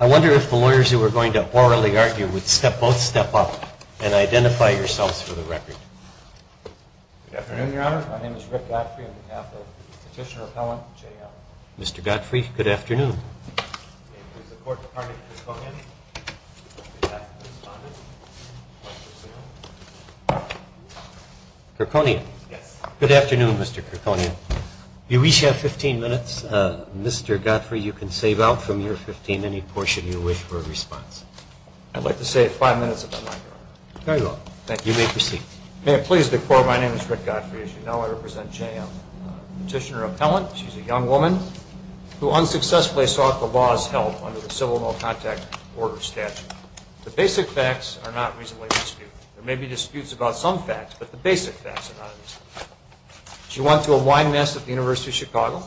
I wonder if the lawyers who were going to orally argue would both step up and identify yourselves for the record. Good afternoon, Your Honor. My name is Rick Godfrey on behalf of Petitioner Appellant J.M. Mr. Godfrey, good afternoon. My name is the Court Department, Kirkconian. Kirkconian. Yes. Good afternoon, Mr. Kirkconian. You each have 15 minutes. Mr. Godfrey, you can save out from your 15 any portion you wish for a response. I'd like to save five minutes if I might, Your Honor. Very well. Thank you. You may proceed. May it please the Court, my name is Rick Godfrey. As you know, I represent J.M. Petitioner Appellant. She's a young woman who unsuccessfully sought the law's help under the Civil No Contact Order statute. The basic facts are not reasonably disputed. There may be disputes about some facts, but the basic facts are not in dispute. She went to a wine mess at the University of Chicago.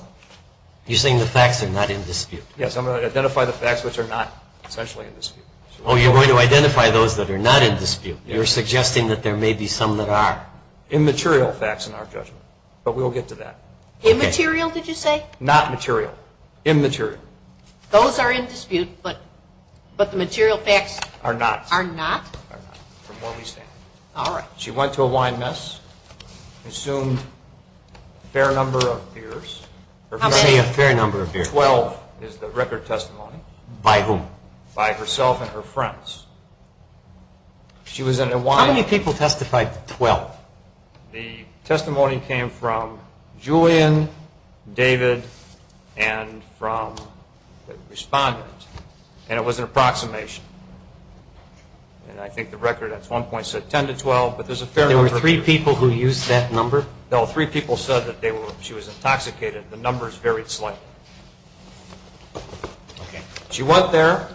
You're saying the facts are not in dispute? Yes, I'm going to identify the facts which are not essentially in dispute. Oh, you're going to identify those that are not in dispute. You're suggesting that there may be some that are. Immaterial facts in our judgment, but we'll get to that. Immaterial, did you say? Not material. Immaterial. Those are in dispute, but the material facts are not? From where we stand. All right. She went to a wine mess, consumed a fair number of beers. How many a fair number of beers? Twelve is the record testimony. By whom? By herself and her friends. How many people testified to twelve? The testimony came from Julian, David, and from the respondent, and it was an approximation. And I think the record at one point said ten to twelve, but there's a fair number. There were three people who used that number? No, three people said that she was intoxicated. The numbers varied slightly. Okay. She went there.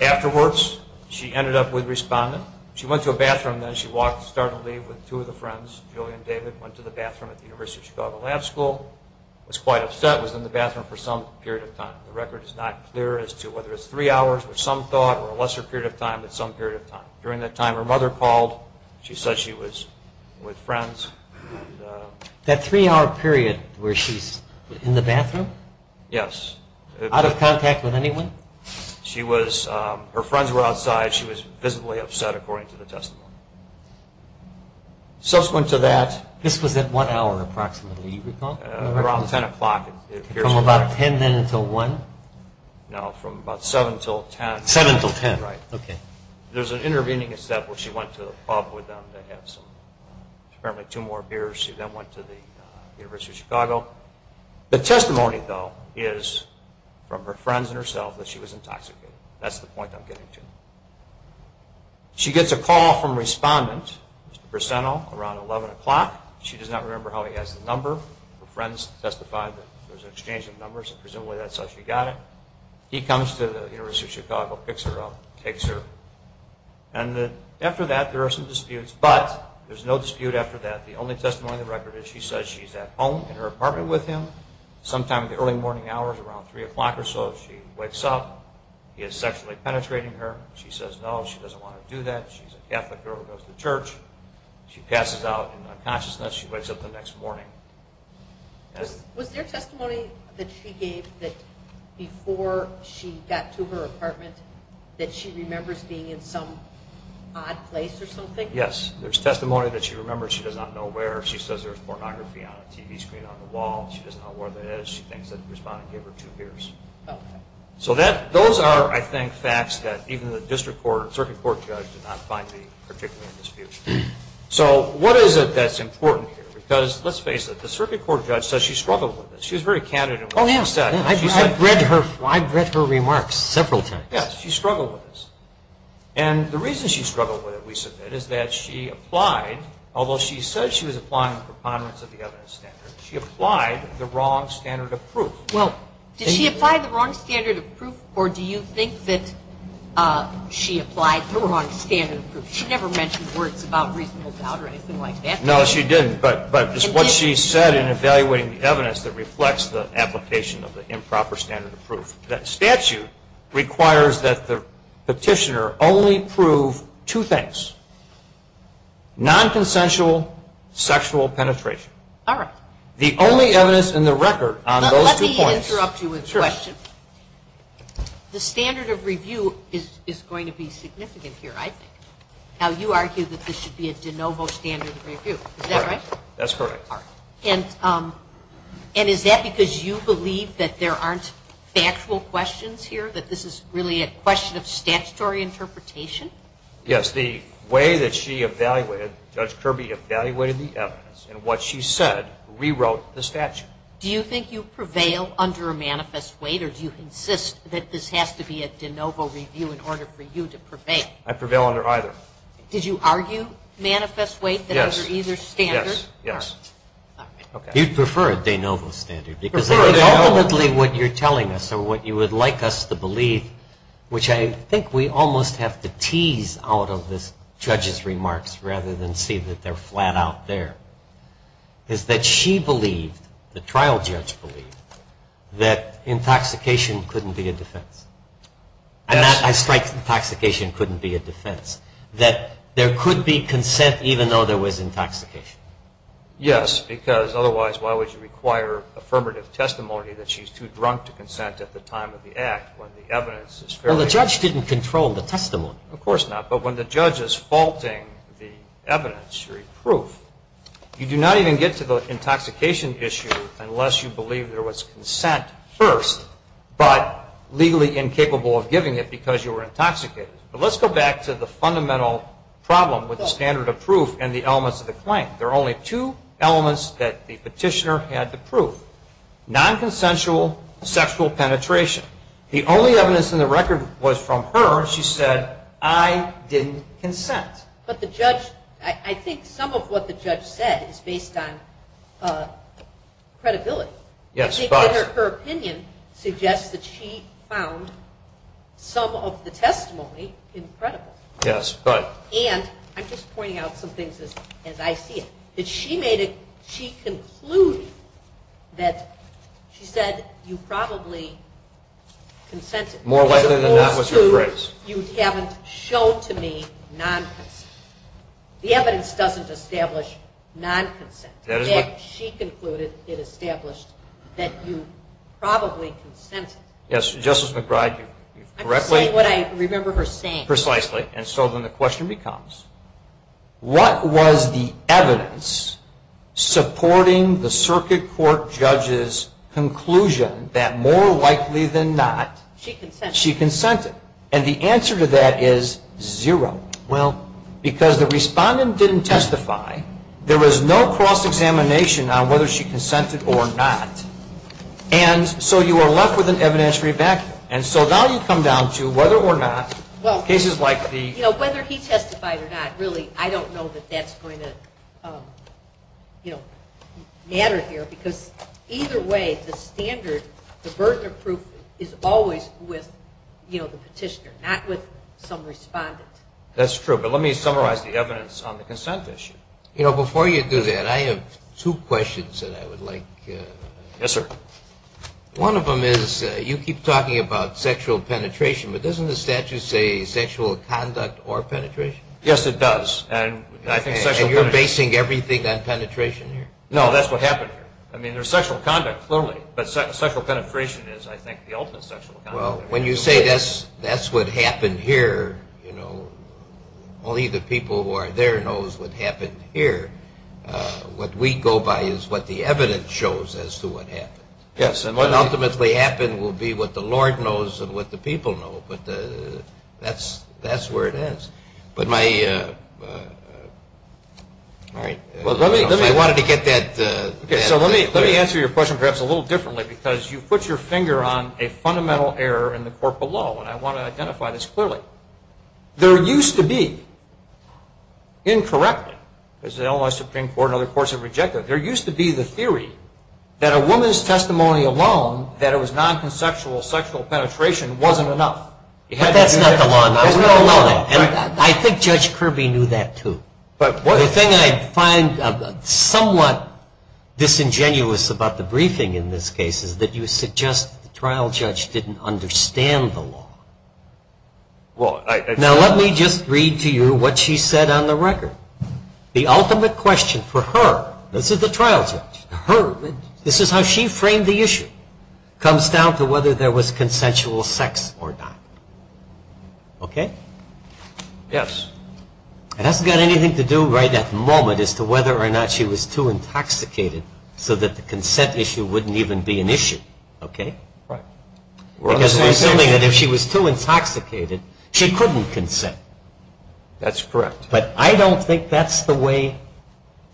Afterwards, she ended up with a respondent. She went to a bathroom then. She started to leave with two of the friends, Julian and David. Went to the bathroom at the University of Chicago Lab School. Was quite upset. Was in the bathroom for some period of time. The record is not clear as to whether it's three hours, which some thought, or a lesser period of time, but some period of time. During that time, her mother called. She said she was with friends. That three-hour period where she's in the bathroom? Yes. Out of contact with anyone? Her friends were outside. She was visibly upset, according to the testimony. Subsequent to that, this was at what hour approximately, do you recall? Around ten o'clock. From about ten then until one? No, from about seven until ten. Seven until ten. Right. Okay. There's an intervening step where she went to the pub with them to have some, apparently two more beers. She then went to the University of Chicago. The testimony, though, is from her friends and herself that she was intoxicated. That's the point I'm getting to. She gets a call from a respondent, Mr. Briseno, around 11 o'clock. She does not remember how he has the number. Her friends testified that there was an exchange of numbers, and presumably that's how she got it. He comes to the University of Chicago, picks her up, takes her, and after that there are some disputes. But there's no dispute after that. The only testimony in the record is she says she's at home in her apartment with him. Sometime in the early morning hours, around three o'clock or so, she wakes up. He is sexually penetrating her. She says no, she doesn't want to do that. She's a Catholic girl who goes to church. She passes out in unconsciousness. She wakes up the next morning. Was there testimony that she gave that before she got to her apartment that she remembers being in some odd place or something? Yes, there's testimony that she remembers. She does not know where. She says there's pornography on a TV screen on the wall. She doesn't know where that is. She thinks that the respondent gave her two beers. So those are, I think, facts that even the district court judge did not find particularly in dispute. So what is it that's important here? Because let's face it, the circuit court judge says she struggled with this. She was very candid in what she said. I've read her remarks several times. Yes, she struggled with this. And the reason she struggled with it, we submit, is that she applied, although she said she was applying the preponderance of the evidence standard, she applied the wrong standard of proof. Well, did she apply the wrong standard of proof, or do you think that she applied the wrong standard of proof? She never mentioned words about reasonable doubt or anything like that. No, she didn't. But it's what she said in evaluating the evidence that reflects the application of the improper standard of proof. That statute requires that the petitioner only prove two things, nonconsensual sexual penetration. All right. The only evidence in the record on those two points. Let me interrupt you with a question. Sure. The standard of review is going to be significant here, I think. Now, you argue that this should be a de novo standard of review. Is that right? That's correct. All right. And is that because you believe that there aren't factual questions here, that this is really a question of statutory interpretation? Yes. The way that she evaluated, Judge Kirby evaluated the evidence, and what she said rewrote the statute. Do you think you prevail under a manifest weight, or do you insist that this has to be a de novo review in order for you to prevail? I prevail under either. Did you argue manifest weight? Yes. That it was either standard? Yes. You'd prefer a de novo standard because ultimately what you're telling us or what you would like us to believe, which I think we almost have to tease out of this judge's remarks rather than see that they're flat out there, is that she believed, the trial judge believed, that intoxication couldn't be a defense. Yes. I strike that intoxication couldn't be a defense, that there could be consent even though there was intoxication. Yes, because otherwise why would you require affirmative testimony that she's too drunk to consent at the time of the act when the evidence is fairly clear? Well, the judge didn't control the testimony. Of course not. But when the judge is faulting the evidence or proof, you do not even get to the intoxication issue unless you believe there was consent first but legally incapable of giving it because you were intoxicated. But let's go back to the fundamental problem with the standard of proof and the elements of the claim. There are only two elements that the petitioner had the proof, nonconsensual sexual penetration. The only evidence in the record was from her. And she said, I didn't consent. But the judge, I think some of what the judge said is based on credibility. Yes. But her opinion suggests that she found some of the testimony incredible. Yes. But. And I'm just pointing out some things as I see it, that she made a, she concluded that, she said, you probably consented. More likely than not was your phrase. You haven't shown to me nonconsent. The evidence doesn't establish nonconsent. In fact, she concluded, it established that you probably consented. Yes, Justice McBride, you correctly. I'm saying what I remember her saying. Precisely. And so then the question becomes, what was the evidence supporting the circuit court judge's conclusion that more likely than not. She consented. She consented. And the answer to that is zero. Well, because the respondent didn't testify, there was no cross-examination on whether she consented or not. And so you are left with an evidentiary back. And so now you come down to whether or not cases like the. You know, whether he testified or not, really, I don't know that that's going to, you know, matter here. Because either way, the standard, the burden of proof is always with, you know, the petitioner, not with some respondent. That's true. But let me summarize the evidence on the consent issue. You know, before you do that, I have two questions that I would like. Yes, sir. One of them is you keep talking about sexual penetration, but doesn't the statute say sexual conduct or penetration? Yes, it does. And I think sexual penetration. And you're basing everything on penetration here. No, that's what happened here. I mean, there's sexual conduct, clearly. But sexual penetration is, I think, the ultimate sexual conduct. Well, when you say that's what happened here, you know, only the people who are there knows what happened here. What we go by is what the evidence shows as to what happened. Yes, and what ultimately happened will be what the Lord knows and what the people know. But that's where it is. All right. I wanted to get that. So let me answer your question perhaps a little differently because you put your finger on a fundamental error in the court below, and I want to identify this clearly. There used to be, incorrectly, because the Illinois Supreme Court and other courts have rejected it, there used to be the theory that a woman's testimony alone, that it was nonconsexual sexual penetration, wasn't enough. That's not the law. I think Judge Kirby knew that, too. The thing I find somewhat disingenuous about the briefing in this case is that you suggest the trial judge didn't understand the law. Now, let me just read to you what she said on the record. The ultimate question for her, this is the trial judge, her, this is how she framed the issue, comes down to whether there was consensual sex or not. Okay? Yes. It hasn't got anything to do right at the moment as to whether or not she was too intoxicated so that the consent issue wouldn't even be an issue. Okay? Right. Because we're assuming that if she was too intoxicated, she couldn't consent. That's correct. But I don't think that's the way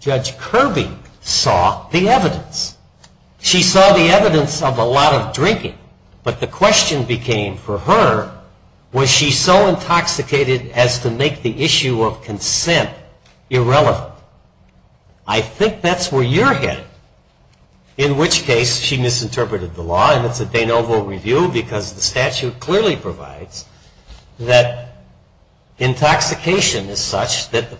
Judge Kirby saw the evidence. She saw the evidence of a lot of drinking, but the question became for her, was she so intoxicated as to make the issue of consent irrelevant? I think that's where you're headed, in which case she misinterpreted the law, and it's a de novo review because the statute clearly provides that intoxication is such that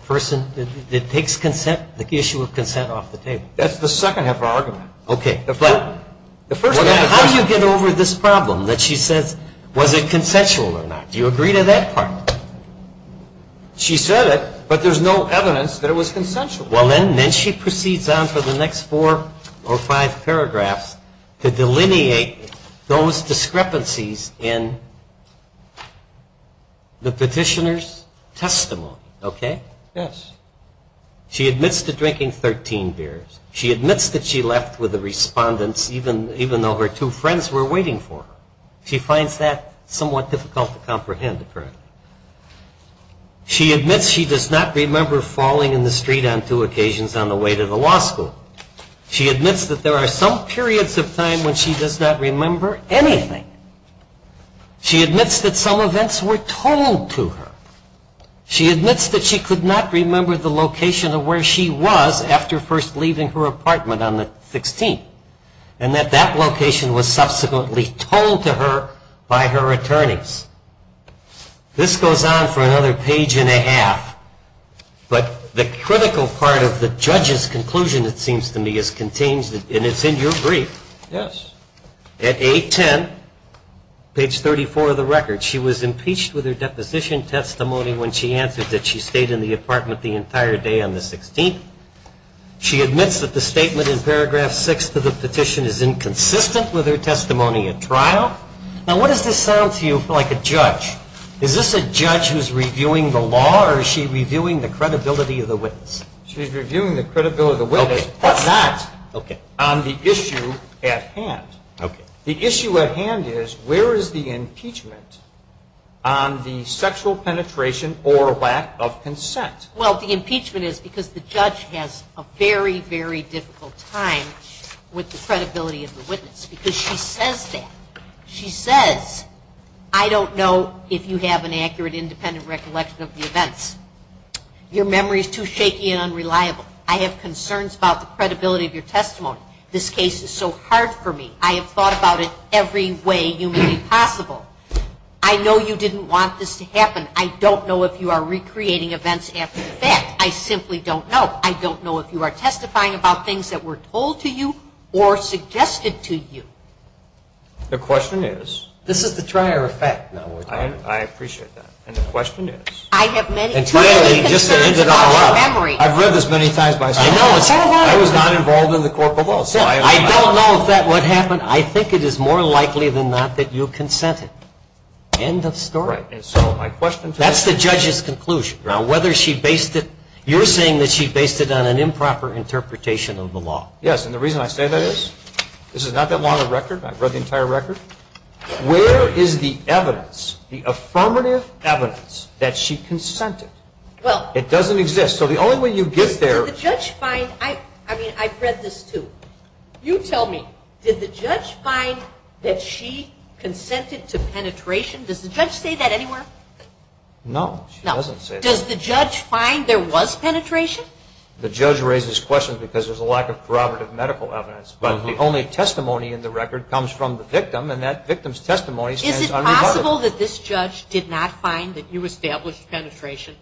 it takes the issue of consent off the table. That's the second half of our argument. Okay. How do you get over this problem that she says, was it consensual or not? Do you agree to that part? She said it, but there's no evidence that it was consensual. Well, then she proceeds on for the next four or five paragraphs to delineate those discrepancies in the petitioner's testimony. Okay? Yes. She admits to drinking 13 beers. She admits that she left with the respondents even though her two friends were waiting for her. She finds that somewhat difficult to comprehend, apparently. She admits she does not remember falling in the street on two occasions on the way to the law school. She admits that there are some periods of time when she does not remember anything. She admits that some events were told to her. She admits that she could not remember the location of where she was after first leaving her apartment on the 16th, and that that location was subsequently told to her by her attorneys. This goes on for another page and a half, but the critical part of the judge's conclusion, it seems to me, is contained, and it's in your brief. Yes. At A10, page 34 of the record, she was impeached with her deposition testimony when she answered that she stayed in the apartment the entire day on the 16th. She admits that the statement in paragraph 6 of the petition is inconsistent with her testimony at trial. Now, what does this sound to you like a judge? Is this a judge who is reviewing the law, or is she reviewing the credibility of the witness? She's reviewing the credibility of the witness, but not on the issue at hand. Okay. The issue at hand is where is the impeachment on the sexual penetration or lack of consent? Well, the impeachment is because the judge has a very, very difficult time with the credibility of the witness because she says that. She says, I don't know if you have an accurate independent recollection of the events. Your memory is too shaky and unreliable. I have concerns about the credibility of your testimony. This case is so hard for me. I have thought about it every way humanly possible. I know you didn't want this to happen. I don't know if you are recreating events after the fact. I simply don't know. I don't know if you are testifying about things that were told to you or suggested to you. The question is? This is the trier effect. I appreciate that. And the question is? I have many concerns about your memory. I've read this many times myself. I was not involved in the court below. I don't know if that would happen. I think it is more likely than not that you consented. End of story. That's the judge's conclusion. You're saying that she based it on an improper interpretation of the law. Yes, and the reason I say that is this is not that long a record. I've read the entire record. Where is the evidence, the affirmative evidence, that she consented? It doesn't exist. So the only way you get there. Did the judge find? I mean, I've read this too. You tell me. Did the judge find that she consented to penetration? Does the judge say that anywhere? No, she doesn't say that. Does the judge find there was penetration? The judge raises questions because there's a lack of corroborative medical evidence. But the only testimony in the record comes from the victim, and that victim's testimony stands unrebutted. Is it possible that this judge did not find that you established penetration?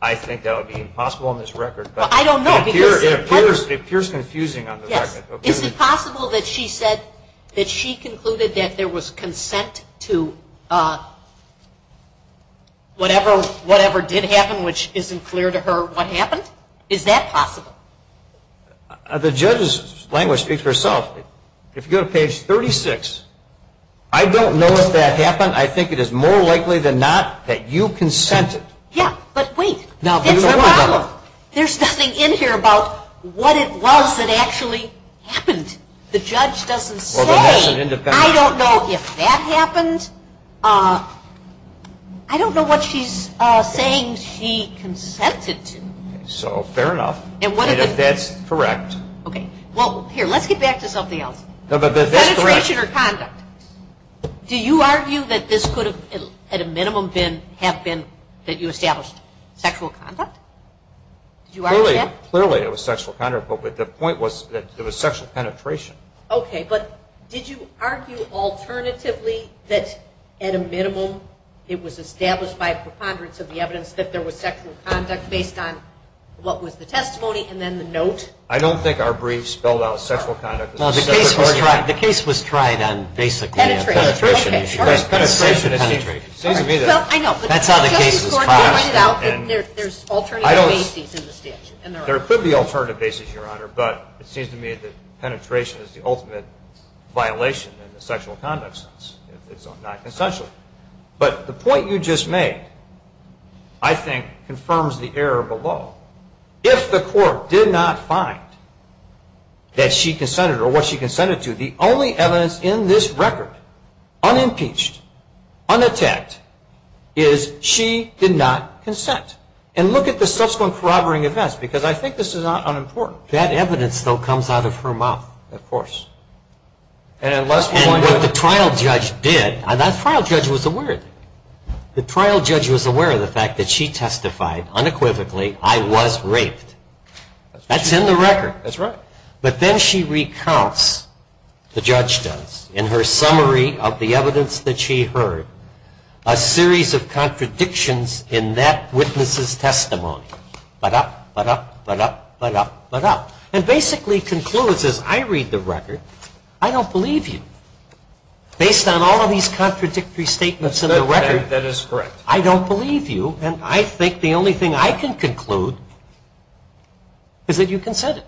I think that would be impossible on this record. I don't know. It appears confusing on the record. Is it possible that she said that she concluded that there was consent to whatever did happen, which isn't clear to her what happened? Is that possible? The judge's language speaks for itself. If you go to page 36, I don't know if that happened. I think it is more likely than not that you consented. Yeah, but wait. Now, there's a problem. There's nothing in here about what it was that actually happened. The judge doesn't say. I don't know if that happened. I don't know what she's saying she consented to. So, fair enough. If that's correct. Okay. Well, here, let's get back to something else. Penetration or conduct. Do you argue that this could have, at a minimum, have been that you established sexual conduct? Did you argue that? Clearly, it was sexual conduct, but the point was that it was sexual penetration. Okay, but did you argue alternatively that, at a minimum, it was established by preponderance of the evidence that there was sexual conduct based on what was the testimony and then the note? I don't think our brief spelled out sexual conduct. Well, the case was tried on basically penetration. Okay, sure. It seems to me that that's how the case was passed. Well, I know, but Justice Gordon pointed out that there's alternative bases in the statute. There could be alternative bases, Your Honor, but it seems to me that penetration is the ultimate violation in the sexual conduct sense. It's not consensual. But the point you just made, I think, confirms the error below. If the court did not find that she consented or what she consented to, the only evidence in this record, unimpeached, unattacked, is she did not consent. And look at the subsequent corroborating events, because I think this is not unimportant. That evidence, though, comes out of her mouth, of course. And what the trial judge did, the trial judge was aware of it. The fact that she testified unequivocally, I was raped. That's in the record. That's right. But then she recounts, the judge does, in her summary of the evidence that she heard, a series of contradictions in that witness's testimony. Ba-dup, ba-dup, ba-dup, ba-dup, ba-dup. And basically concludes, as I read the record, I don't believe you. Based on all of these contradictory statements in the record. That is correct. I don't believe you. And I think the only thing I can conclude is that you consented.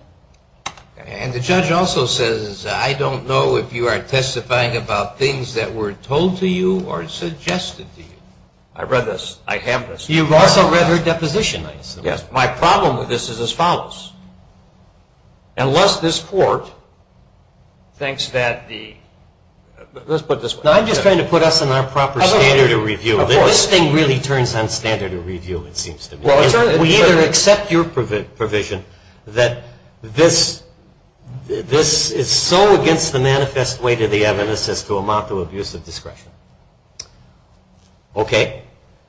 And the judge also says, I don't know if you are testifying about things that were told to you or suggested to you. I read this. I have this. You've also read her deposition. Yes. My problem with this is as follows. Unless this court thinks that the, let's put it this way. I'm just trying to put us in our proper standard of review. This thing really turns on standard of review, it seems to me. We either accept your provision that this is so against the manifest way to the evidence as to amount to abusive discretion. Okay.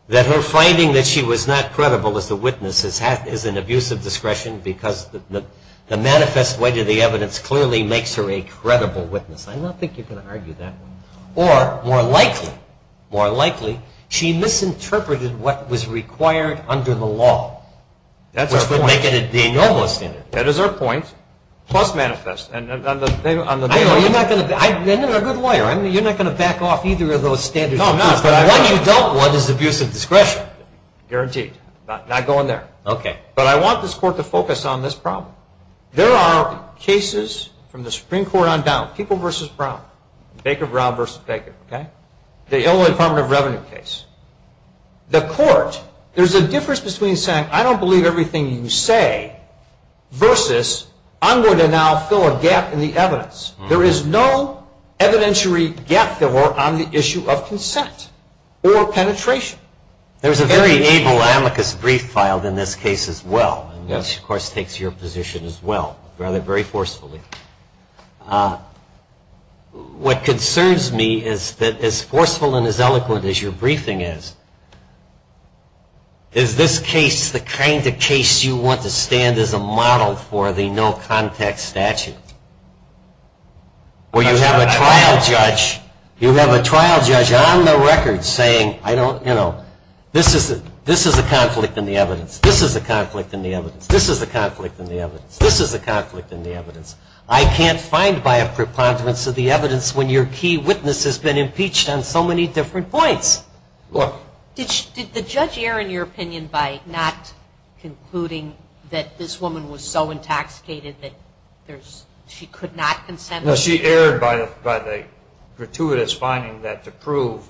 That her finding that she was not credible as the witness is an abusive discretion because the manifest way to the evidence clearly makes her a credible witness. I don't think you can argue that way. Or, more likely, more likely, she misinterpreted what was required under the law. That's our point. Which would make it a de novo standard. That is our point. Plus manifest. I know you're not going to back off either of those standards. No, I'm not. But what you don't want is abusive discretion. Guaranteed. Not going there. Okay. But I want this court to focus on this problem. There are cases from the Supreme Court on down, people versus Brown, Baker-Brown versus Baker, okay? The Illinois Department of Revenue case. The court, there's a difference between saying, I don't believe everything you say versus I'm going to now fill a gap in the evidence. There is no evidentiary gap filler on the issue of consent or penetration. There's a very able amicus brief filed in this case as well, which, of course, takes your position as well, rather very forcefully. What concerns me is that as forceful and as eloquent as your briefing is, is this case the kind of case you want to stand as a model for the no-contact statute? Where you have a trial judge, you have a trial judge on the record saying, I don't, you know, this is a conflict in the evidence. This is a conflict in the evidence. This is a conflict in the evidence. This is a conflict in the evidence. I can't find by a preponderance of the evidence when your key witness has been impeached on so many different points. Did the judge err in your opinion by not concluding that this woman was so intoxicated that she could not consent? No, she erred by the gratuitous finding that to prove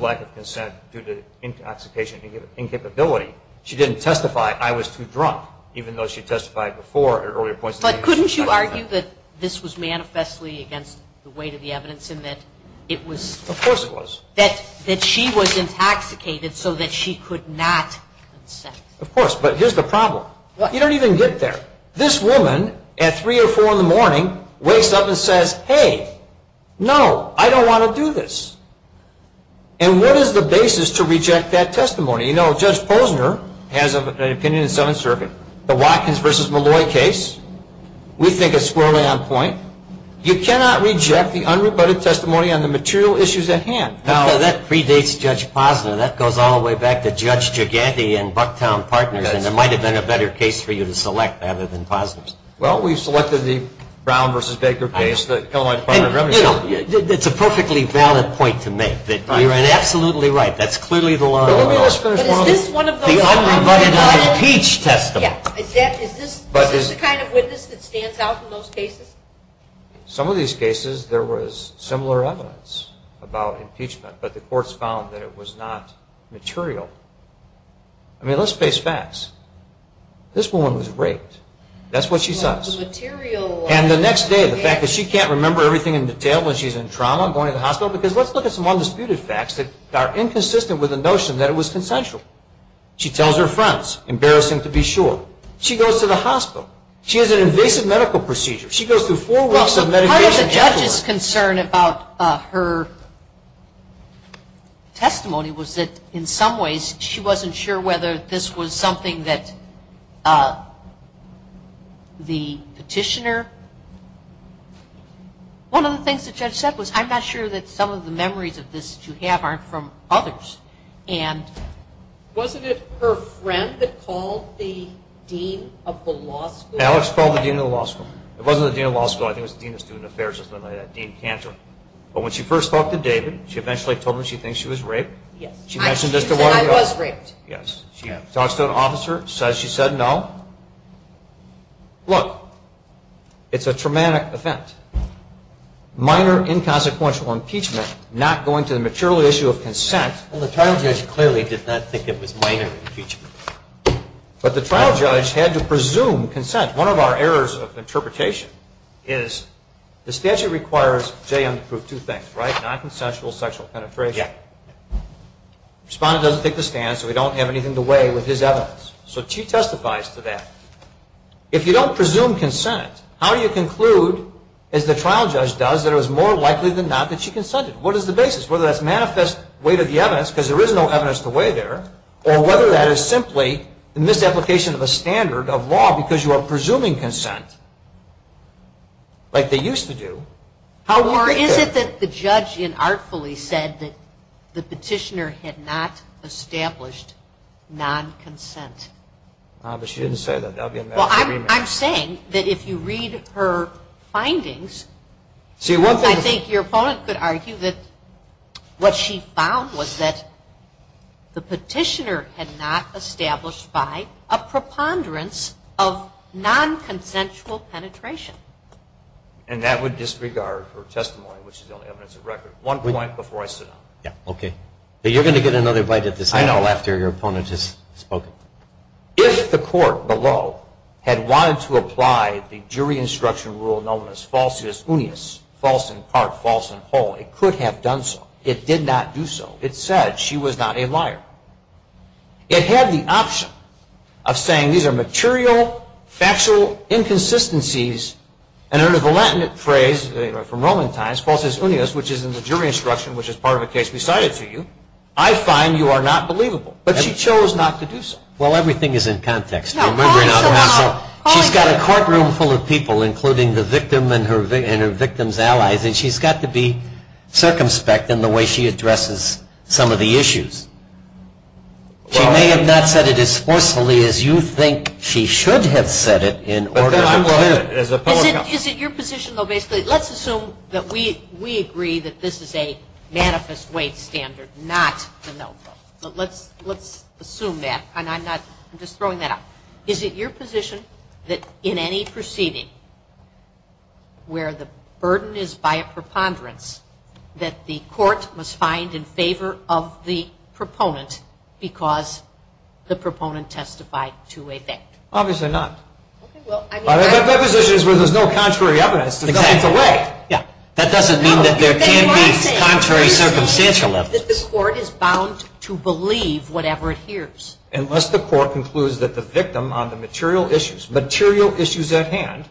lack of consent due to intoxication and incapability, she didn't testify, I was too drunk, even though she testified before at earlier points. But couldn't you argue that this was manifestly against the weight of the evidence and that it was that she was intoxicated so that she could not consent? Of course, but here's the problem. You don't even get there. This woman at 3 or 4 in the morning wakes up and says, hey, no, I don't want to do this. And what is the basis to reject that testimony? You know, Judge Posner has an opinion in Seventh Circuit. The Watkins v. Malloy case, we think it's squarely on point. You cannot reject the unrebutted testimony on the material issues at hand. Now, that predates Judge Posner. That goes all the way back to Judge Giganti and Bucktown Partners, and there might have been a better case for you to select rather than Posner's. Well, we've selected the Brown v. Baker case. It's a perfectly valid point to make. You're absolutely right. That's clearly the law of the world. But is this one of those unrebutted? The unrebutted impeach testimony. Is this the kind of witness that stands out in those cases? Some of these cases there was similar evidence about impeachment, but the courts found that it was not material. I mean, let's face facts. This woman was raped. That's what she says. And the next day, the fact that she can't remember everything in detail when she's in trauma, going to the hospital. Because let's look at some undisputed facts that are inconsistent with the notion that it was consensual. She tells her friends, embarrassing to be sure. She goes to the hospital. She has an invasive medical procedure. She goes through four weeks of medication. Part of the judge's concern about her testimony was that, in some ways, she wasn't sure whether this was something that the petitioner. One of the things the judge said was, I'm not sure that some of the memories of this that you have aren't from others. Wasn't it her friend that called the dean of the law school? Alex called the dean of the law school. It wasn't the dean of the law school. I think it was the dean of student affairs or something like that, Dean Cantor. But when she first talked to David, she eventually told him she thinks she was raped. Yes. She mentioned this to one of the officers. She said, I was raped. Yes. She talks to an officer. She says she said no. Look, it's a traumatic event. Minor inconsequential impeachment, not going to the material issue of consent. Well, the trial judge clearly did not think it was minor impeachment. But the trial judge had to presume consent. One of our errors of interpretation is the statute requires Jay Young to prove two things, right? Non-consensual sexual penetration. Respondent doesn't take the stand, so we don't have anything to weigh with his evidence. So she testifies to that. If you don't presume consent, how do you conclude, as the trial judge does, that it was more likely than not that she consented? What is the basis? Whether that's manifest weight of the evidence, because there is no evidence to weigh there, or whether that is simply the misapplication of a standard of law because you are presuming consent, like they used to do. Or is it that the judge inartfully said that the petitioner had not established non-consent? She didn't say that. That would be a misagreement. Well, I'm saying that if you read her findings, I think your opponent could argue that what she found was that the petitioner had not established by a preponderance of non-consensual penetration. And that would disregard her testimony, which is the only evidence of record. One point before I sit down. Okay. You're going to get another bite at this after your opponent has spoken. If the court below had wanted to apply the jury instruction rule known as falsus unius, false in part, false in whole, it could have done so. It did not do so. It said she was not a liar. It had the option of saying these are material, factual inconsistencies, and under the Latin phrase from Roman times, falsus unius, which is in the jury instruction, which is part of a case we cited to you, I find you are not believable. But she chose not to do so. Well, everything is in context. She's got a courtroom full of people, including the victim and her victim's allies, and she's got to be circumspect in the way she addresses some of the issues. She may have not said it as forcefully as you think she should have said it in order to prove it. Is it your position, though, basically, let's assume that we agree that this is a manifest weight standard, not the notebook, but let's assume that, and I'm just throwing that out. Is it your position that in any proceeding where the burden is by a preponderance, that the court must find in favor of the proponent because the proponent testified to a fact? Obviously not. That position is where there's no contrary evidence to come into play. That doesn't mean that there can't be contrary circumstantial evidence. That the court is bound to believe whatever it hears. Unless the court concludes that the victim on the material issues, material issues at hand,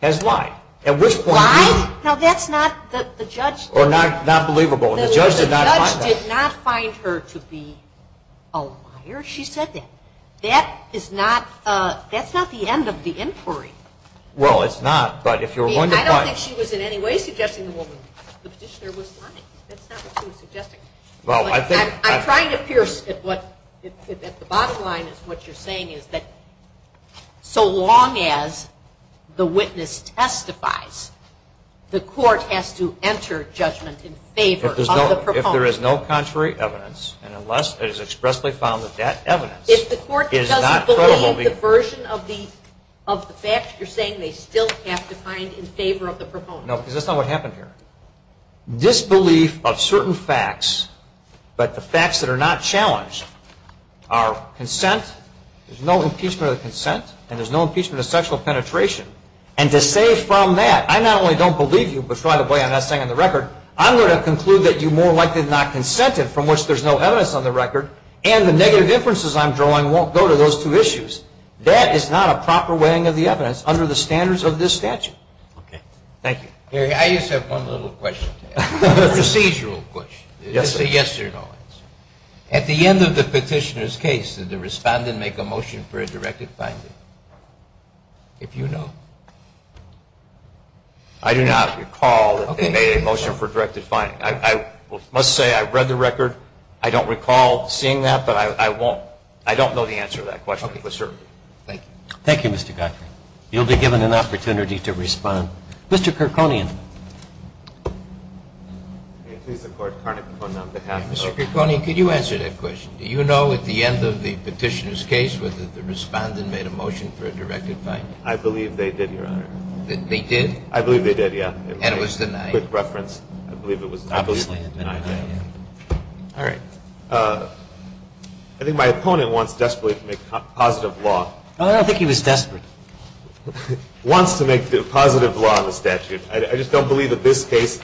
has lied. Lied? No, that's not the judge. Or not believable. The judge did not find that. The judge did not find her to be a liar. She said that. That is not the end of the inquiry. Well, it's not. I don't think she was in any way suggesting the woman. The petitioner was lying. That's not what she was suggesting. I'm trying to pierce at the bottom line is what you're saying is that so long as the witness testifies, the court has to enter judgment in favor of the proponent. If there is no contrary evidence and unless it is expressly found that that evidence is not credible. I think the version of the facts you're saying they still have to find in favor of the proponent. No, because that's not what happened here. Disbelief of certain facts, but the facts that are not challenged are consent, there's no impeachment of consent, and there's no impeachment of sexual penetration. And to say from that, I not only don't believe you, but right away I'm not saying on the record, I'm going to conclude that you more likely than not consented, from which there's no evidence on the record, and the negative inferences I'm drawing won't go to those two issues. That is not a proper weighing of the evidence under the standards of this statute. Okay. Thank you. I just have one little question. Procedural question. Yes, sir. It's a yes or no answer. At the end of the petitioner's case, did the respondent make a motion for a directed finding? If you know. I must say I've read the record. I don't recall seeing that, but I won't, I don't know the answer to that question for certain. Okay. Thank you. Thank you, Mr. Gottfried. You'll be given an opportunity to respond. Mr. Kirkconian. May it please the Court. Karnak on behalf of the Court. Mr. Kirkconian, could you answer that question? Do you know at the end of the petitioner's case whether the respondent made a motion for a directed finding? I believe they did, Your Honor. They did? I believe they did, yeah. And it was denied. Quick reference. I believe it was obviously denied. All right. I think my opponent wants desperately to make positive law. I don't think he was desperate. Wants to make positive law in the statute. I just don't believe that this case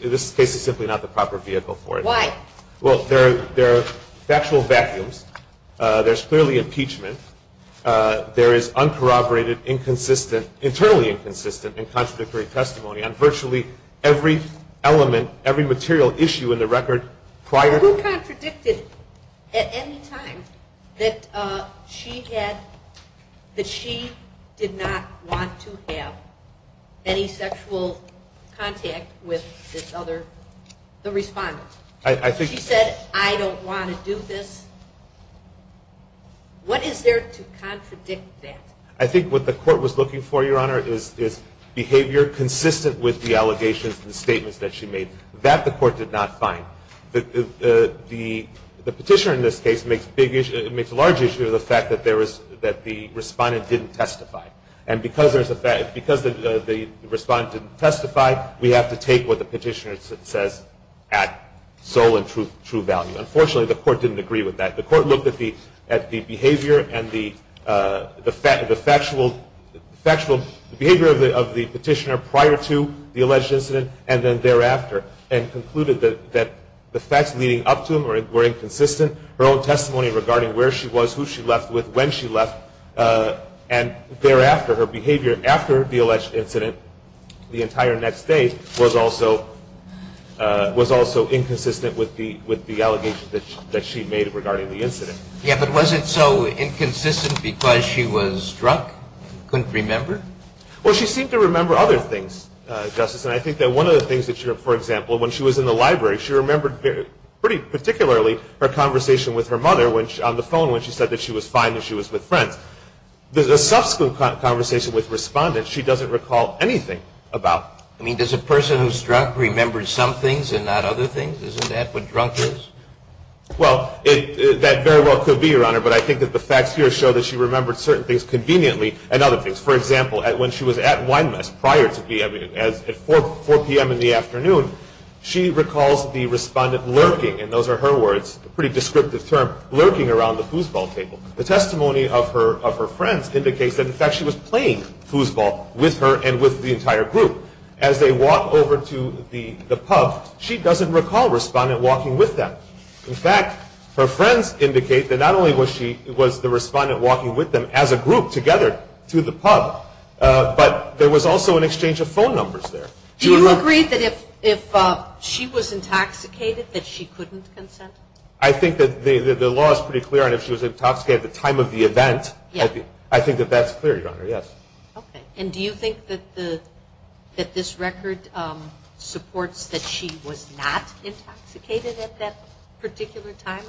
is simply not the proper vehicle for it. Why? Well, there are factual vacuums. There's clearly impeachment. There is uncorroborated, inconsistent, internally inconsistent and contradictory testimony on virtually every element, every material issue in the record prior. Who contradicted at any time that she did not want to have any sexual contact with this other respondent? She said, I don't want to do this. What is there to contradict that? I think what the court was looking for, Your Honor, is behavior consistent with the allegations and statements that she made. That the court did not find. The petitioner in this case makes a large issue of the fact that the respondent didn't testify. And because the respondent didn't testify, we have to take what the petitioner says at soul and true value. Unfortunately, the court didn't agree with that. The court looked at the behavior and the factual behavior of the petitioner prior to the alleged incident and then thereafter and concluded that the facts leading up to them were inconsistent. Her own testimony regarding where she was, who she left with, when she left, and thereafter, her behavior after the alleged incident the entire next day was also inconsistent with the allegations that she made regarding the incident. Yeah, but was it so inconsistent because she was drunk and couldn't remember? Well, she seemed to remember other things, Justice, and I think that one of the things that she, for example, when she was in the library, she remembered pretty particularly her conversation with her mother on the phone when she said that she was fine and she was with friends. The subsequent conversation with respondents, she doesn't recall anything about. I mean, does a person who's drunk remember some things and not other things? Isn't that what drunk is? Well, that very well could be, Your Honor, but I think that the facts here show that she remembered certain things conveniently and other things. For example, when she was at Winemess at 4 p.m. in the afternoon, she recalls the respondent lurking, and those are her words, a pretty descriptive term, lurking around the foosball table. The testimony of her friends indicates that, in fact, she was playing foosball with her and with the entire group. As they walked over to the pub, she doesn't recall a respondent walking with them. In fact, her friends indicate that not only was the respondent walking with them as a group together to the pub, but there was also an exchange of phone numbers there. Do you agree that if she was intoxicated that she couldn't consent? I think that the law is pretty clear on if she was intoxicated at the time of the event. I think that that's clear, Your Honor, yes. Okay, and do you think that this record supports that she was not intoxicated at that particular time?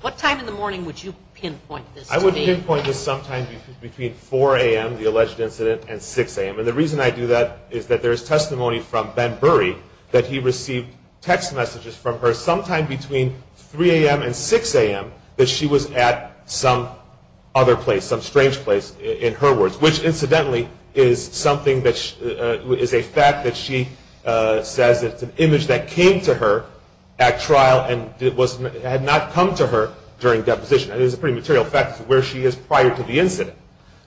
What time in the morning would you pinpoint this to be? I would pinpoint this sometime between 4 a.m., the alleged incident, and 6 a.m., and the reason I do that is that there is testimony from Ben Burry that he received text messages from her sometime between 3 a.m. and 6 a.m. that she was at some other place, some strange place, in her words, which incidentally is a fact that she says it's an image that came to her at trial and had not come to her during deposition. It is a pretty material fact as to where she is prior to the incident.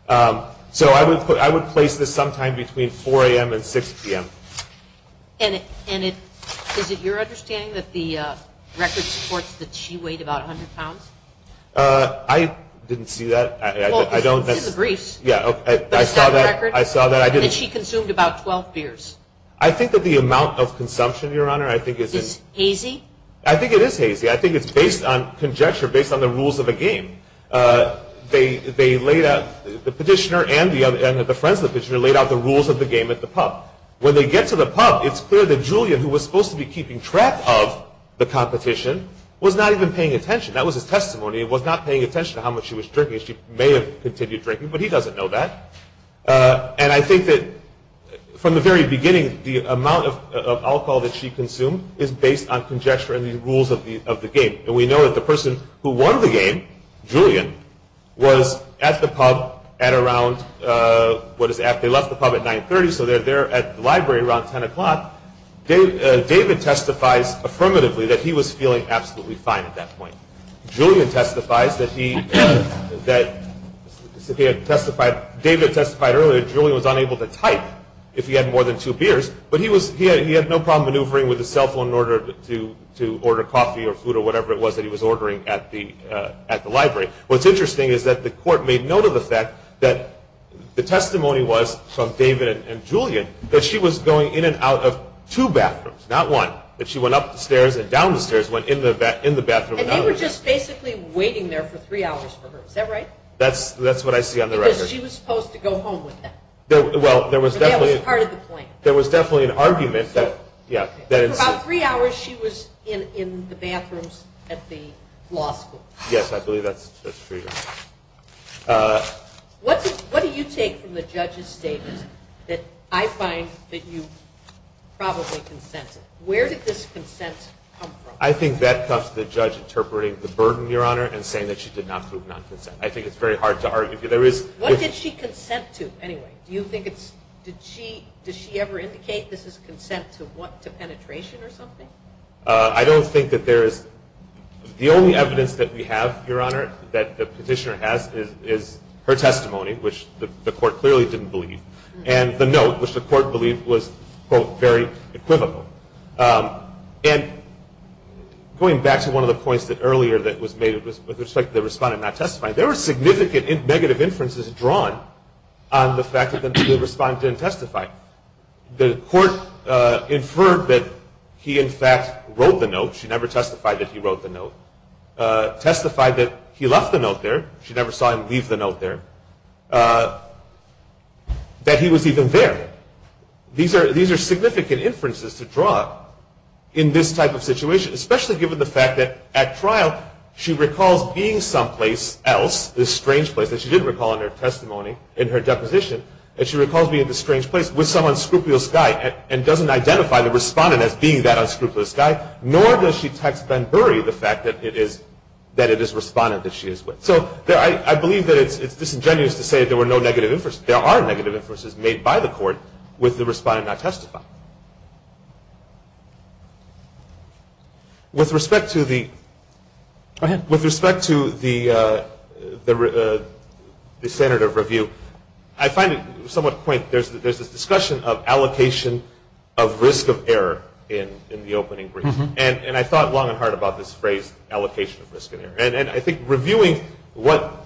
So I would place this sometime between 4 a.m. and 6 p.m. And is it your understanding that the record supports that she weighed about 100 pounds? I didn't see that. Well, it's in the briefs. I saw that. And that she consumed about 12 beers. I think that the amount of consumption, Your Honor, I think is... Is hazy? I think it is hazy. I think it's based on conjecture, based on the rules of the game. They laid out, the petitioner and the friends of the petitioner laid out the rules of the game at the pub. When they get to the pub, it's clear that Julian, who was supposed to be keeping track of the competition, was not even paying attention. That was his testimony. He was not paying attention to how much she was drinking. She may have continued drinking, but he doesn't know that. And I think that from the very beginning, the amount of alcohol that she consumed is based on conjecture and the rules of the game. And we know that the person who won the game, Julian, was at the pub at around... At the library around 10 o'clock. David testifies affirmatively that he was feeling absolutely fine at that point. Julian testifies that he... That he had testified... David testified earlier that Julian was unable to type if he had more than two beers, but he had no problem maneuvering with his cell phone in order to order coffee or food or whatever it was that he was ordering at the library. What's interesting is that the court made note of the fact that the testimony was from David and Julian that she was going in and out of two bathrooms, not one. That she went up the stairs and down the stairs, went in the bathroom. And they were just basically waiting there for three hours for her. Is that right? That's what I see on the record. Because she was supposed to go home with them. Well, there was definitely... But that was part of the plan. There was definitely an argument that... For about three hours, she was in the bathrooms at the law school. Yes, I believe that's true. What do you take from the judge's statement that I find that you probably consented? Where did this consent come from? I think that comes from the judge interpreting the burden, Your Honor, and saying that she did not prove non-consent. I think it's very hard to argue. What did she consent to? Anyway, do you think it's... Does she ever indicate this is consent to penetration or something? I don't think that there is... The only evidence that we have, Your Honor, that the petitioner has is her testimony, which the court clearly didn't believe. And the note, which the court believed was, quote, very equivocal. And going back to one of the points earlier that was made with respect to the respondent not testifying, there were significant negative inferences drawn on the fact that the respondent didn't testify. The court inferred that he, in fact, wrote the note. She never testified that he wrote the note. Testified that he left the note there. She never saw him leave the note there. That he was even there. These are significant inferences to draw in this type of situation, especially given the fact that at trial she recalls being someplace else, this strange place that she didn't recall in her testimony, in her deposition, and she recalls being at this strange place with some unscrupulous guy and doesn't identify the respondent as being that unscrupulous guy, nor does she text Ben Bury the fact that it is the respondent that she is with. So I believe that it's disingenuous to say there were no negative inferences. There are negative inferences made by the court with the respondent not testifying. With respect to the... Go ahead. There's this discussion of allocation of risk of error in the opening brief. And I thought long and hard about this phrase, allocation of risk of error. And I think reviewing what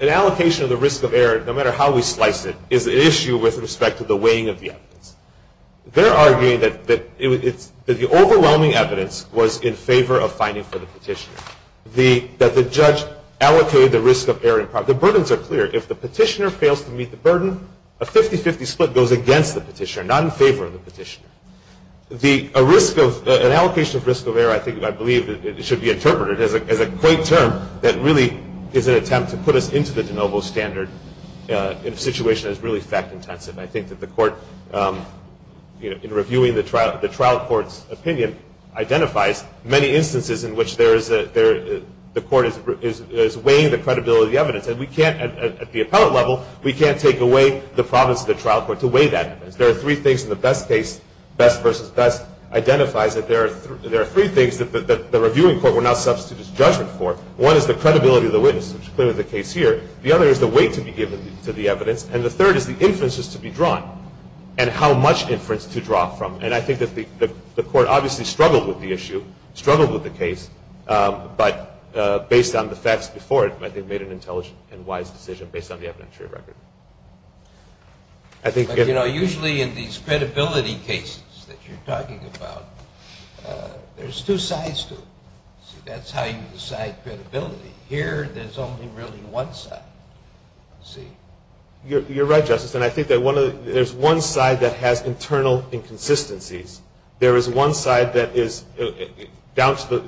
an allocation of the risk of error, no matter how we slice it, is an issue with respect to the weighing of the evidence. They're arguing that the overwhelming evidence was in favor of finding for the petitioner, that the judge allocated the risk of error. The burdens are clear. If the petitioner fails to meet the burden, a 50-50 split goes against the petitioner, not in favor of the petitioner. An allocation of risk of error, I believe, should be interpreted as a quaint term that really is an attempt to put us into the de novo standard in a situation that is really fact-intensive. I think that the court, in reviewing the trial court's opinion, identifies many instances in which the court is weighing the credibility of the evidence. And we can't, at the appellate level, we can't take away the province of the trial court to weigh that evidence. There are three things in the best case, best versus best, identifies that there are three things that the reviewing court will now substitute its judgment for. One is the credibility of the witness, which is clearly the case here. The other is the weight to be given to the evidence. And the third is the inferences to be drawn and how much inference to draw from. And I think that the court obviously struggled with the issue, struggled with the case, but based on the facts before it, I think made an intelligent and wise decision based on the evidentiary record. But, you know, usually in these credibility cases that you're talking about, there's two sides to it. That's how you decide credibility. Here, there's only really one side. You're right, Justice, and I think there's one side that has internal inconsistencies. There is one side that is down to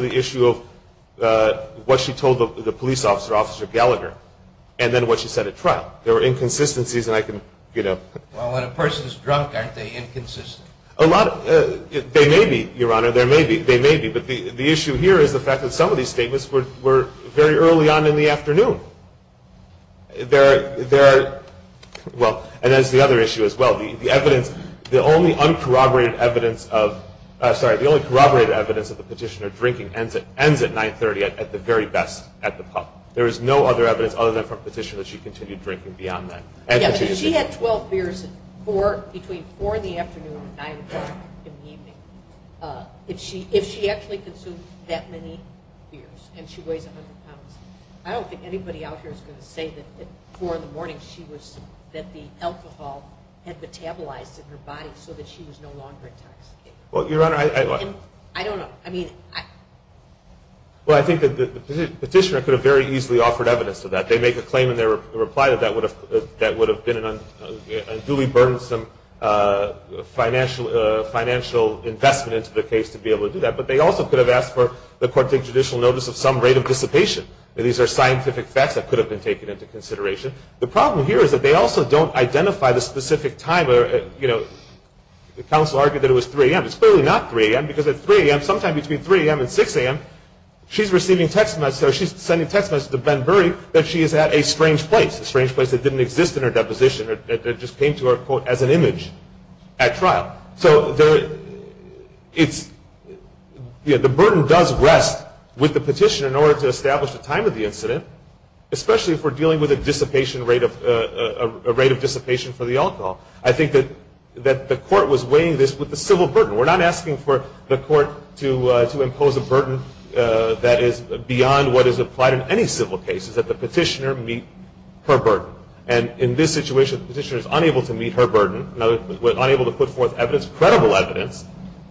the issue of what she told the police officer, Officer Gallagher, and then what she said at trial. There were inconsistencies, and I can, you know. Well, when a person is drunk, aren't they inconsistent? They may be, Your Honor. They may be. But the issue here is the fact that some of these statements were very early on in the afternoon. There are, well, and there's the other issue as well. The evidence, the only uncorroborated evidence of, sorry, the only corroborated evidence that the petitioner drinking ends at 930 at the very best at the pub. There is no other evidence other than from a petitioner that she continued drinking beyond that. Yeah, if she had 12 beers between 4 in the afternoon and 9 in the evening, if she actually consumed that many beers and she weighs 100 pounds, I don't think anybody out here is going to say that at 4 in the morning she was, that the alcohol had metabolized in her body so that she was no longer intoxicated. Well, Your Honor. I don't know. I mean, I. Well, I think that the petitioner could have very easily offered evidence to that. They make a claim in their reply that that would have been a duly burdensome financial investment into the case to be able to do that. But they also could have asked for the court to take judicial notice of some rate of dissipation. These are scientific facts that could have been taken into consideration. The problem here is that they also don't identify the specific time. You know, the counsel argued that it was 3 a.m. It's clearly not 3 a.m. because at 3 a.m., sometime between 3 a.m. and 6 a.m., she's receiving text messages. She's sending text messages to Ben Burry that she is at a strange place, a strange place that didn't exist in her deposition. It just came to her, quote, as an image at trial. So the burden does rest with the petitioner in order to establish the time of the incident, especially if we're dealing with a rate of dissipation for the alcohol. I think that the court was weighing this with the civil burden. We're not asking for the court to impose a burden that is beyond what is applied in any civil case, is that the petitioner meet her burden. And in this situation, the petitioner is unable to meet her burden, unable to put forth evidence, credible evidence,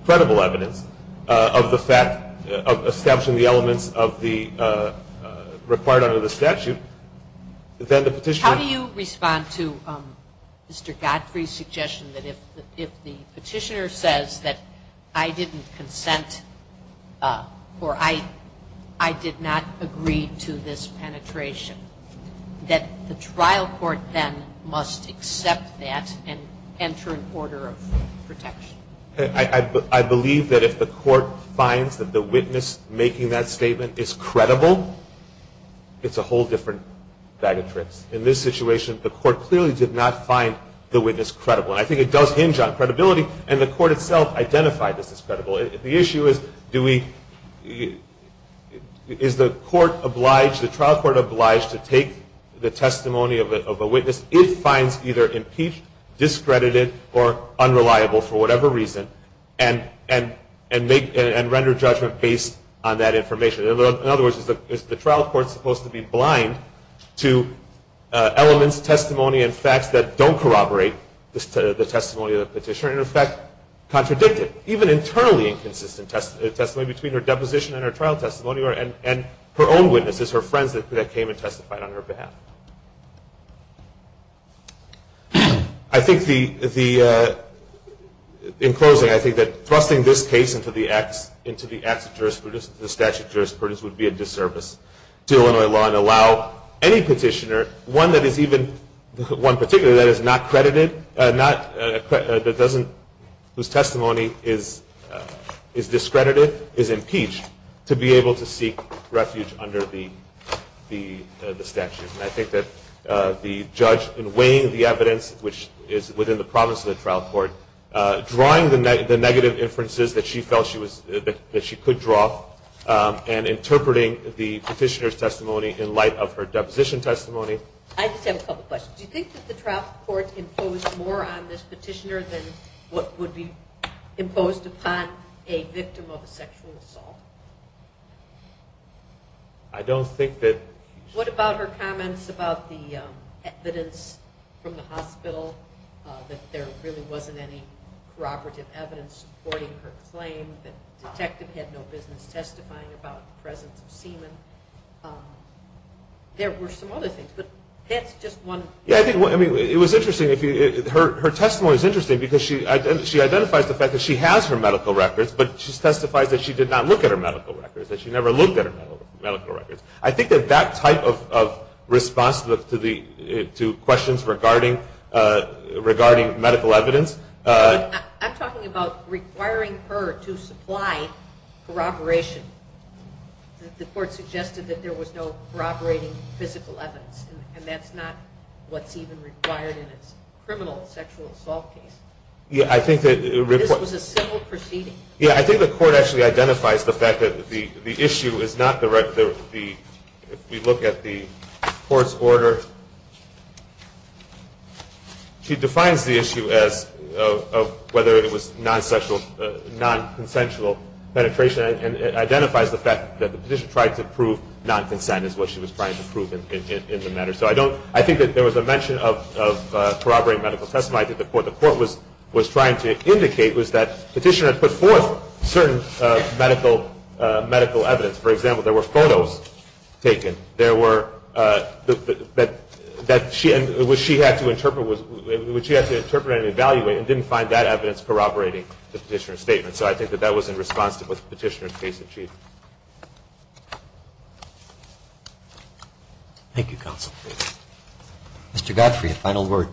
credible evidence of the fact of establishing the elements of the required under the statute, then the petitioner. How do you respond to Mr. Godfrey's suggestion that if the petitioner says that I didn't consent or I did not agree to this penetration, that the trial court then must accept that and enter an order of protection? I believe that if the court finds that the witness making that statement is credible, it's a whole different bag of tricks. In this situation, the court clearly did not find the witness credible. And I think it does hinge on credibility, and the court itself identified this as credible. The issue is, is the trial court obliged to take the testimony of a witness it finds either impeached, discredited, or unreliable for whatever reason, and render judgment based on that information? In other words, is the trial court supposed to be blind to elements, testimony, and facts that don't corroborate the testimony of the petitioner and, in fact, contradict it? Even internally inconsistent testimony between her deposition and her trial testimony and her own witnesses, her friends that came and testified on her behalf. In closing, I think that thrusting this case into the acts of jurisprudence, the statute of jurisprudence, would be a disservice to Illinois law and allow any petitioner, one that is not credited, whose testimony is discredited, is impeached, to be able to seek refuge under the statute. And I think that the judge in weighing the evidence, which is within the promise of the trial court, drawing the negative inferences that she felt she could draw, and interpreting the petitioner's testimony in light of her deposition testimony. I just have a couple questions. Do you think that the trial court imposed more on this petitioner than what would be imposed upon a victim of a sexual assault? I don't think that... What about her comments about the evidence from the hospital, that there really wasn't any corroborative evidence supporting her claim, that the detective had no business testifying about the presence of semen? There were some other things, but that's just one... Yeah, I mean, it was interesting. Her testimony is interesting because she identifies the fact that she has her medical records, but she testifies that she did not look at her medical records, that she never looked at her medical records. I think that that type of response to questions regarding medical evidence... I'm talking about requiring her to supply corroboration. The court suggested that there was no corroborating physical evidence, and that's not what's even required in a criminal sexual assault case. Yeah, I think that... This was a simple proceeding. Yeah, I think the court actually identifies the fact that the issue is not... If we look at the court's order, she defines the issue as whether it was non-consensual penetration, and identifies the fact that the petitioner tried to prove non-consent is what she was trying to prove in the matter. So I think that there was a mention of corroborating medical testimony. I think the court was trying to indicate that the petitioner had put forth certain medical evidence. For example, there were photos taken. There were... What she had to interpret and evaluate, and didn't find that evidence corroborating the petitioner's statement. So I think that that was in response to what the petitioner's case achieved. Thank you, counsel. Mr. Godfrey, a final word.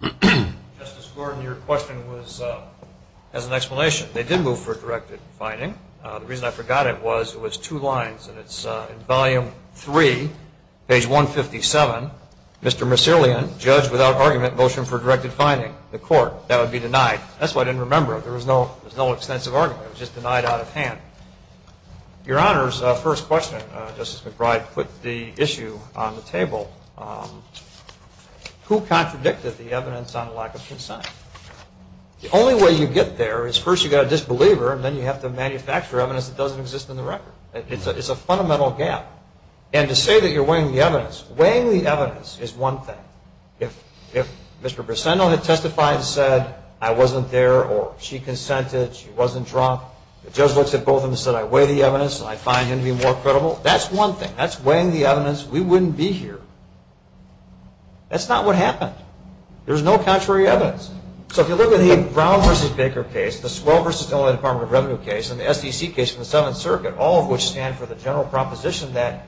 Thank you. Justice Gordon, your question has an explanation. They did move for directed finding. The reason I forgot it was it was two lines, and it's in volume three, page 157. Mr. Macerlian, judge without argument, motion for directed finding. The court, that would be denied. That's why I didn't remember it. There was no extensive argument. It was just denied out of hand. Your Honor's first question, Justice McBride, put the issue on the table. Who contradicted the evidence on lack of consent? The only way you get there is first you've got a disbeliever, and then you have to manufacture evidence that doesn't exist in the record. It's a fundamental gap. And to say that you're weighing the evidence, weighing the evidence is one thing. If Mr. Briseno had testified and said I wasn't there or she consented, she wasn't drunk, the judge looks at both of them and said I weigh the evidence and I find him to be more credible, that's one thing. That's weighing the evidence. We wouldn't be here. That's not what happened. There's no contrary evidence. So if you look at the Brown v. Baker case, the Swell v. Illinois Department of Revenue case, and the SEC case in the Seventh Circuit, all of which stand for the general proposition that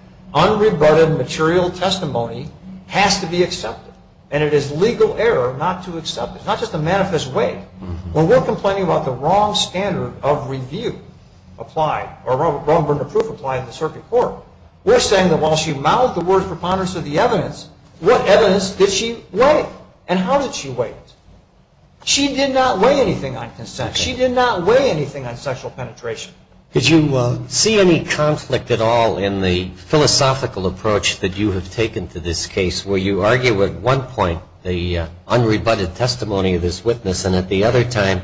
And it is legal error not to accept it, not just to manifest weight. When we're complaining about the wrong standard of review applied or wrong burden of proof applied in the circuit court, we're saying that while she mouthed the words preponderance of the evidence, what evidence did she weigh and how did she weigh it? She did not weigh anything on consent. She did not weigh anything on sexual penetration. Did you see any conflict at all in the philosophical approach that you have taken to this case where you argue at one point the unrebutted testimony of this witness and at the other time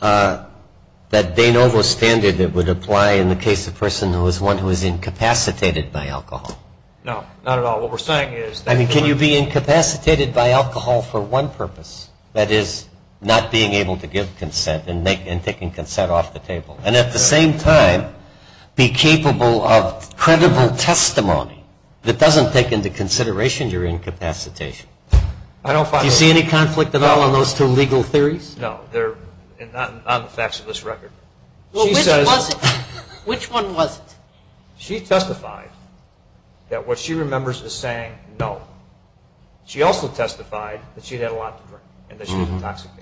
that they know the standard that would apply in the case of a person who is one who is incapacitated by alcohol? No, not at all. What we're saying is that you're I mean, can you be incapacitated by alcohol for one purpose, that is not being able to give consent and taking consent off the table, and at the same time be capable of credible testimony that doesn't take into consideration your incapacitation? Do you see any conflict at all on those two legal theories? No, not on the facts of this record. Which one was it? She testified that what she remembers is saying no. She also testified that she had had a lot to drink and that she was intoxicated.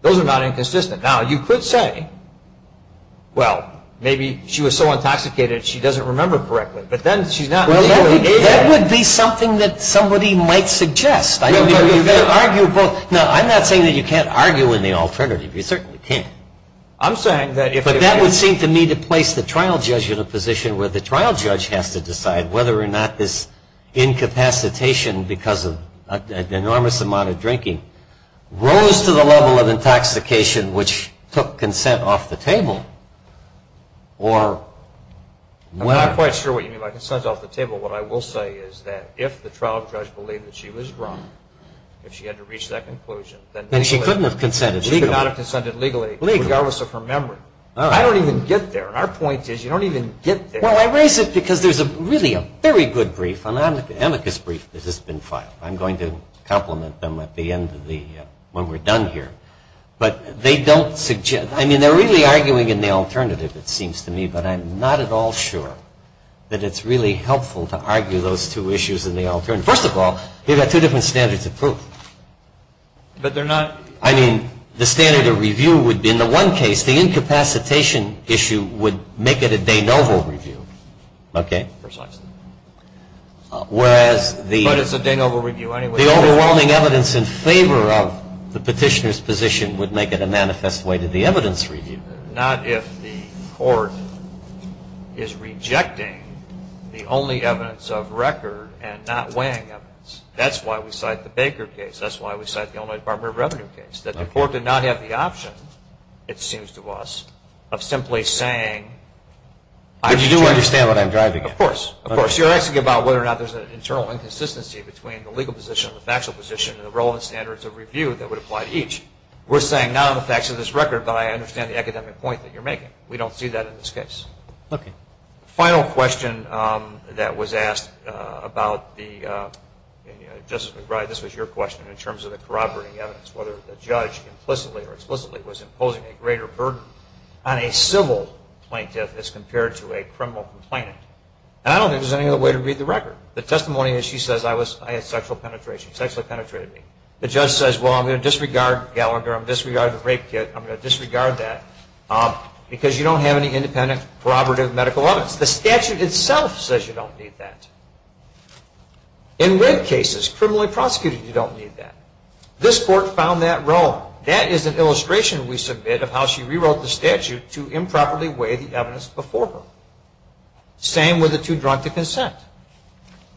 Those are not inconsistent. Now, you could say, well, maybe she was so intoxicated she doesn't remember correctly, but then she's not really able to. That would be something that somebody might suggest. I'm not saying that you can't argue in the alternative. You certainly can't. But that would seem to me to place the trial judge in a position where the trial judge has to decide whether or not this incapacitation because of an enormous amount of drinking rose to the level of intoxication which took consent off the table. I'm not quite sure what you mean by consent off the table. What I will say is that if the trial judge believed that she was drunk, if she had to reach that conclusion, then legally she could not have consented legally, regardless of her memory. I don't even get there. Our point is you don't even get there. Well, I raise it because there's really a very good brief, an amicus brief, that has been filed. I'm going to compliment them at the end when we're done here. But they don't suggest – I mean, they're really arguing in the alternative, it seems to me, but I'm not at all sure that it's really helpful to argue those two issues in the alternative. First of all, you've got two different standards of proof. But they're not – I mean, the standard of review would be, in the one case, the incapacitation issue would make it a de novo review. Okay? Precisely. Whereas the – The overwhelming evidence in favor of the petitioner's position would make it a manifest way to the evidence review. Not if the court is rejecting the only evidence of record and not weighing evidence. That's why we cite the Baker case. That's why we cite the Illinois Department of Revenue case, that the court did not have the option, it seems to us, of simply saying – But you do understand what I'm driving at. Of course. Of course. You're asking about whether or not there's an internal inconsistency between the legal position and the factual position and the relevant standards of review that would apply to each. We're saying not on the facts of this record, but I understand the academic point that you're making. We don't see that in this case. Okay. Final question that was asked about the – Justice McBride, this was your question in terms of the corroborating evidence, whether the judge implicitly or explicitly was imposing a greater burden on a civil plaintiff as compared to a criminal complainant. And I don't think there's any other way to read the record. The testimony is she says, I had sexual penetration, sexually penetrated me. The judge says, well, I'm going to disregard Gallagher, I'm going to disregard the rape kit, I'm going to disregard that, because you don't have any independent corroborative medical evidence. The statute itself says you don't need that. In rape cases, criminally prosecuted, you don't need that. This court found that wrong. That is an illustration we submit of how she rewrote the statute to improperly weigh the evidence before her. Same with the two drunk to consent.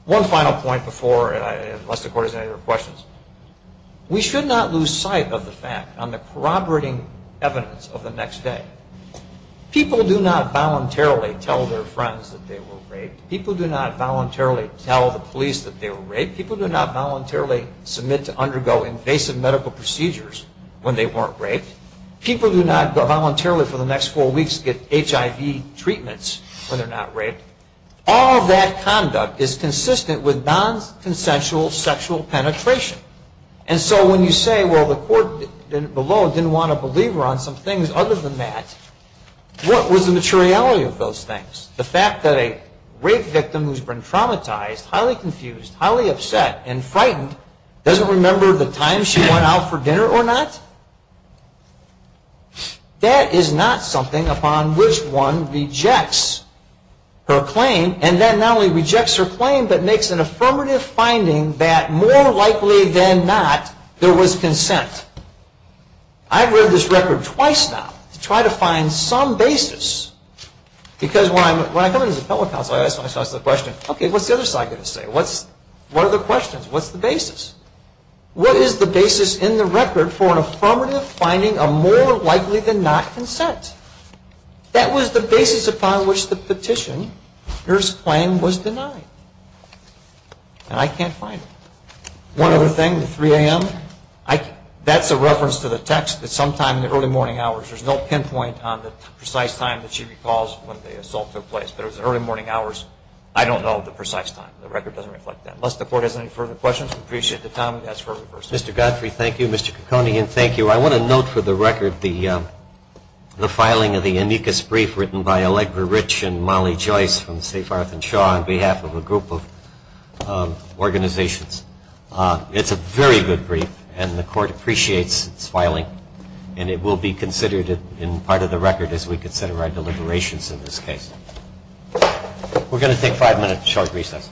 One final point before – unless the court has any other questions. We should not lose sight of the fact on the corroborating evidence of the next day. People do not voluntarily tell their friends that they were raped. People do not voluntarily tell the police that they were raped. People do not voluntarily submit to undergo invasive medical procedures when they weren't raped. People do not voluntarily for the next four weeks get HIV treatments when they're not raped. All that conduct is consistent with non-consensual sexual penetration. And so when you say, well, the court below didn't want to believe her on some things other than that, what was the materiality of those things? The fact that a rape victim who's been traumatized, highly confused, highly upset, and frightened doesn't remember the time she went out for dinner or not, that is not something upon which one rejects her claim. And that not only rejects her claim, but makes an affirmative finding that more likely than not, there was consent. I've read this record twice now to try to find some basis. Because when I come into the public house, I ask myself the question, okay, what's the other side going to say? What are the questions? What's the basis? What is the basis in the record for an affirmative finding of more likely than not consent? That was the basis upon which the petitioner's claim was denied. And I can't find it. One other thing, the 3 a.m. That's a reference to the text that sometime in the early morning hours, there's no pinpoint on the precise time that she recalls when the assault took place, but it was the early morning hours. I don't know the precise time. The record doesn't reflect that. Unless the Court has any further questions, we appreciate the time. That's for reversal. Mr. Godfrey, thank you. Mr. Caccone, again, thank you. I want to note for the record the filing of the amicus brief written by Allegra Rich and Molly Joyce from St. Farth and Shaw on behalf of a group of organizations. It's a very good brief, and the Court appreciates its filing, and it will be considered in part of the record as we consider our deliberations in this case. We're going to take five minutes of short recess.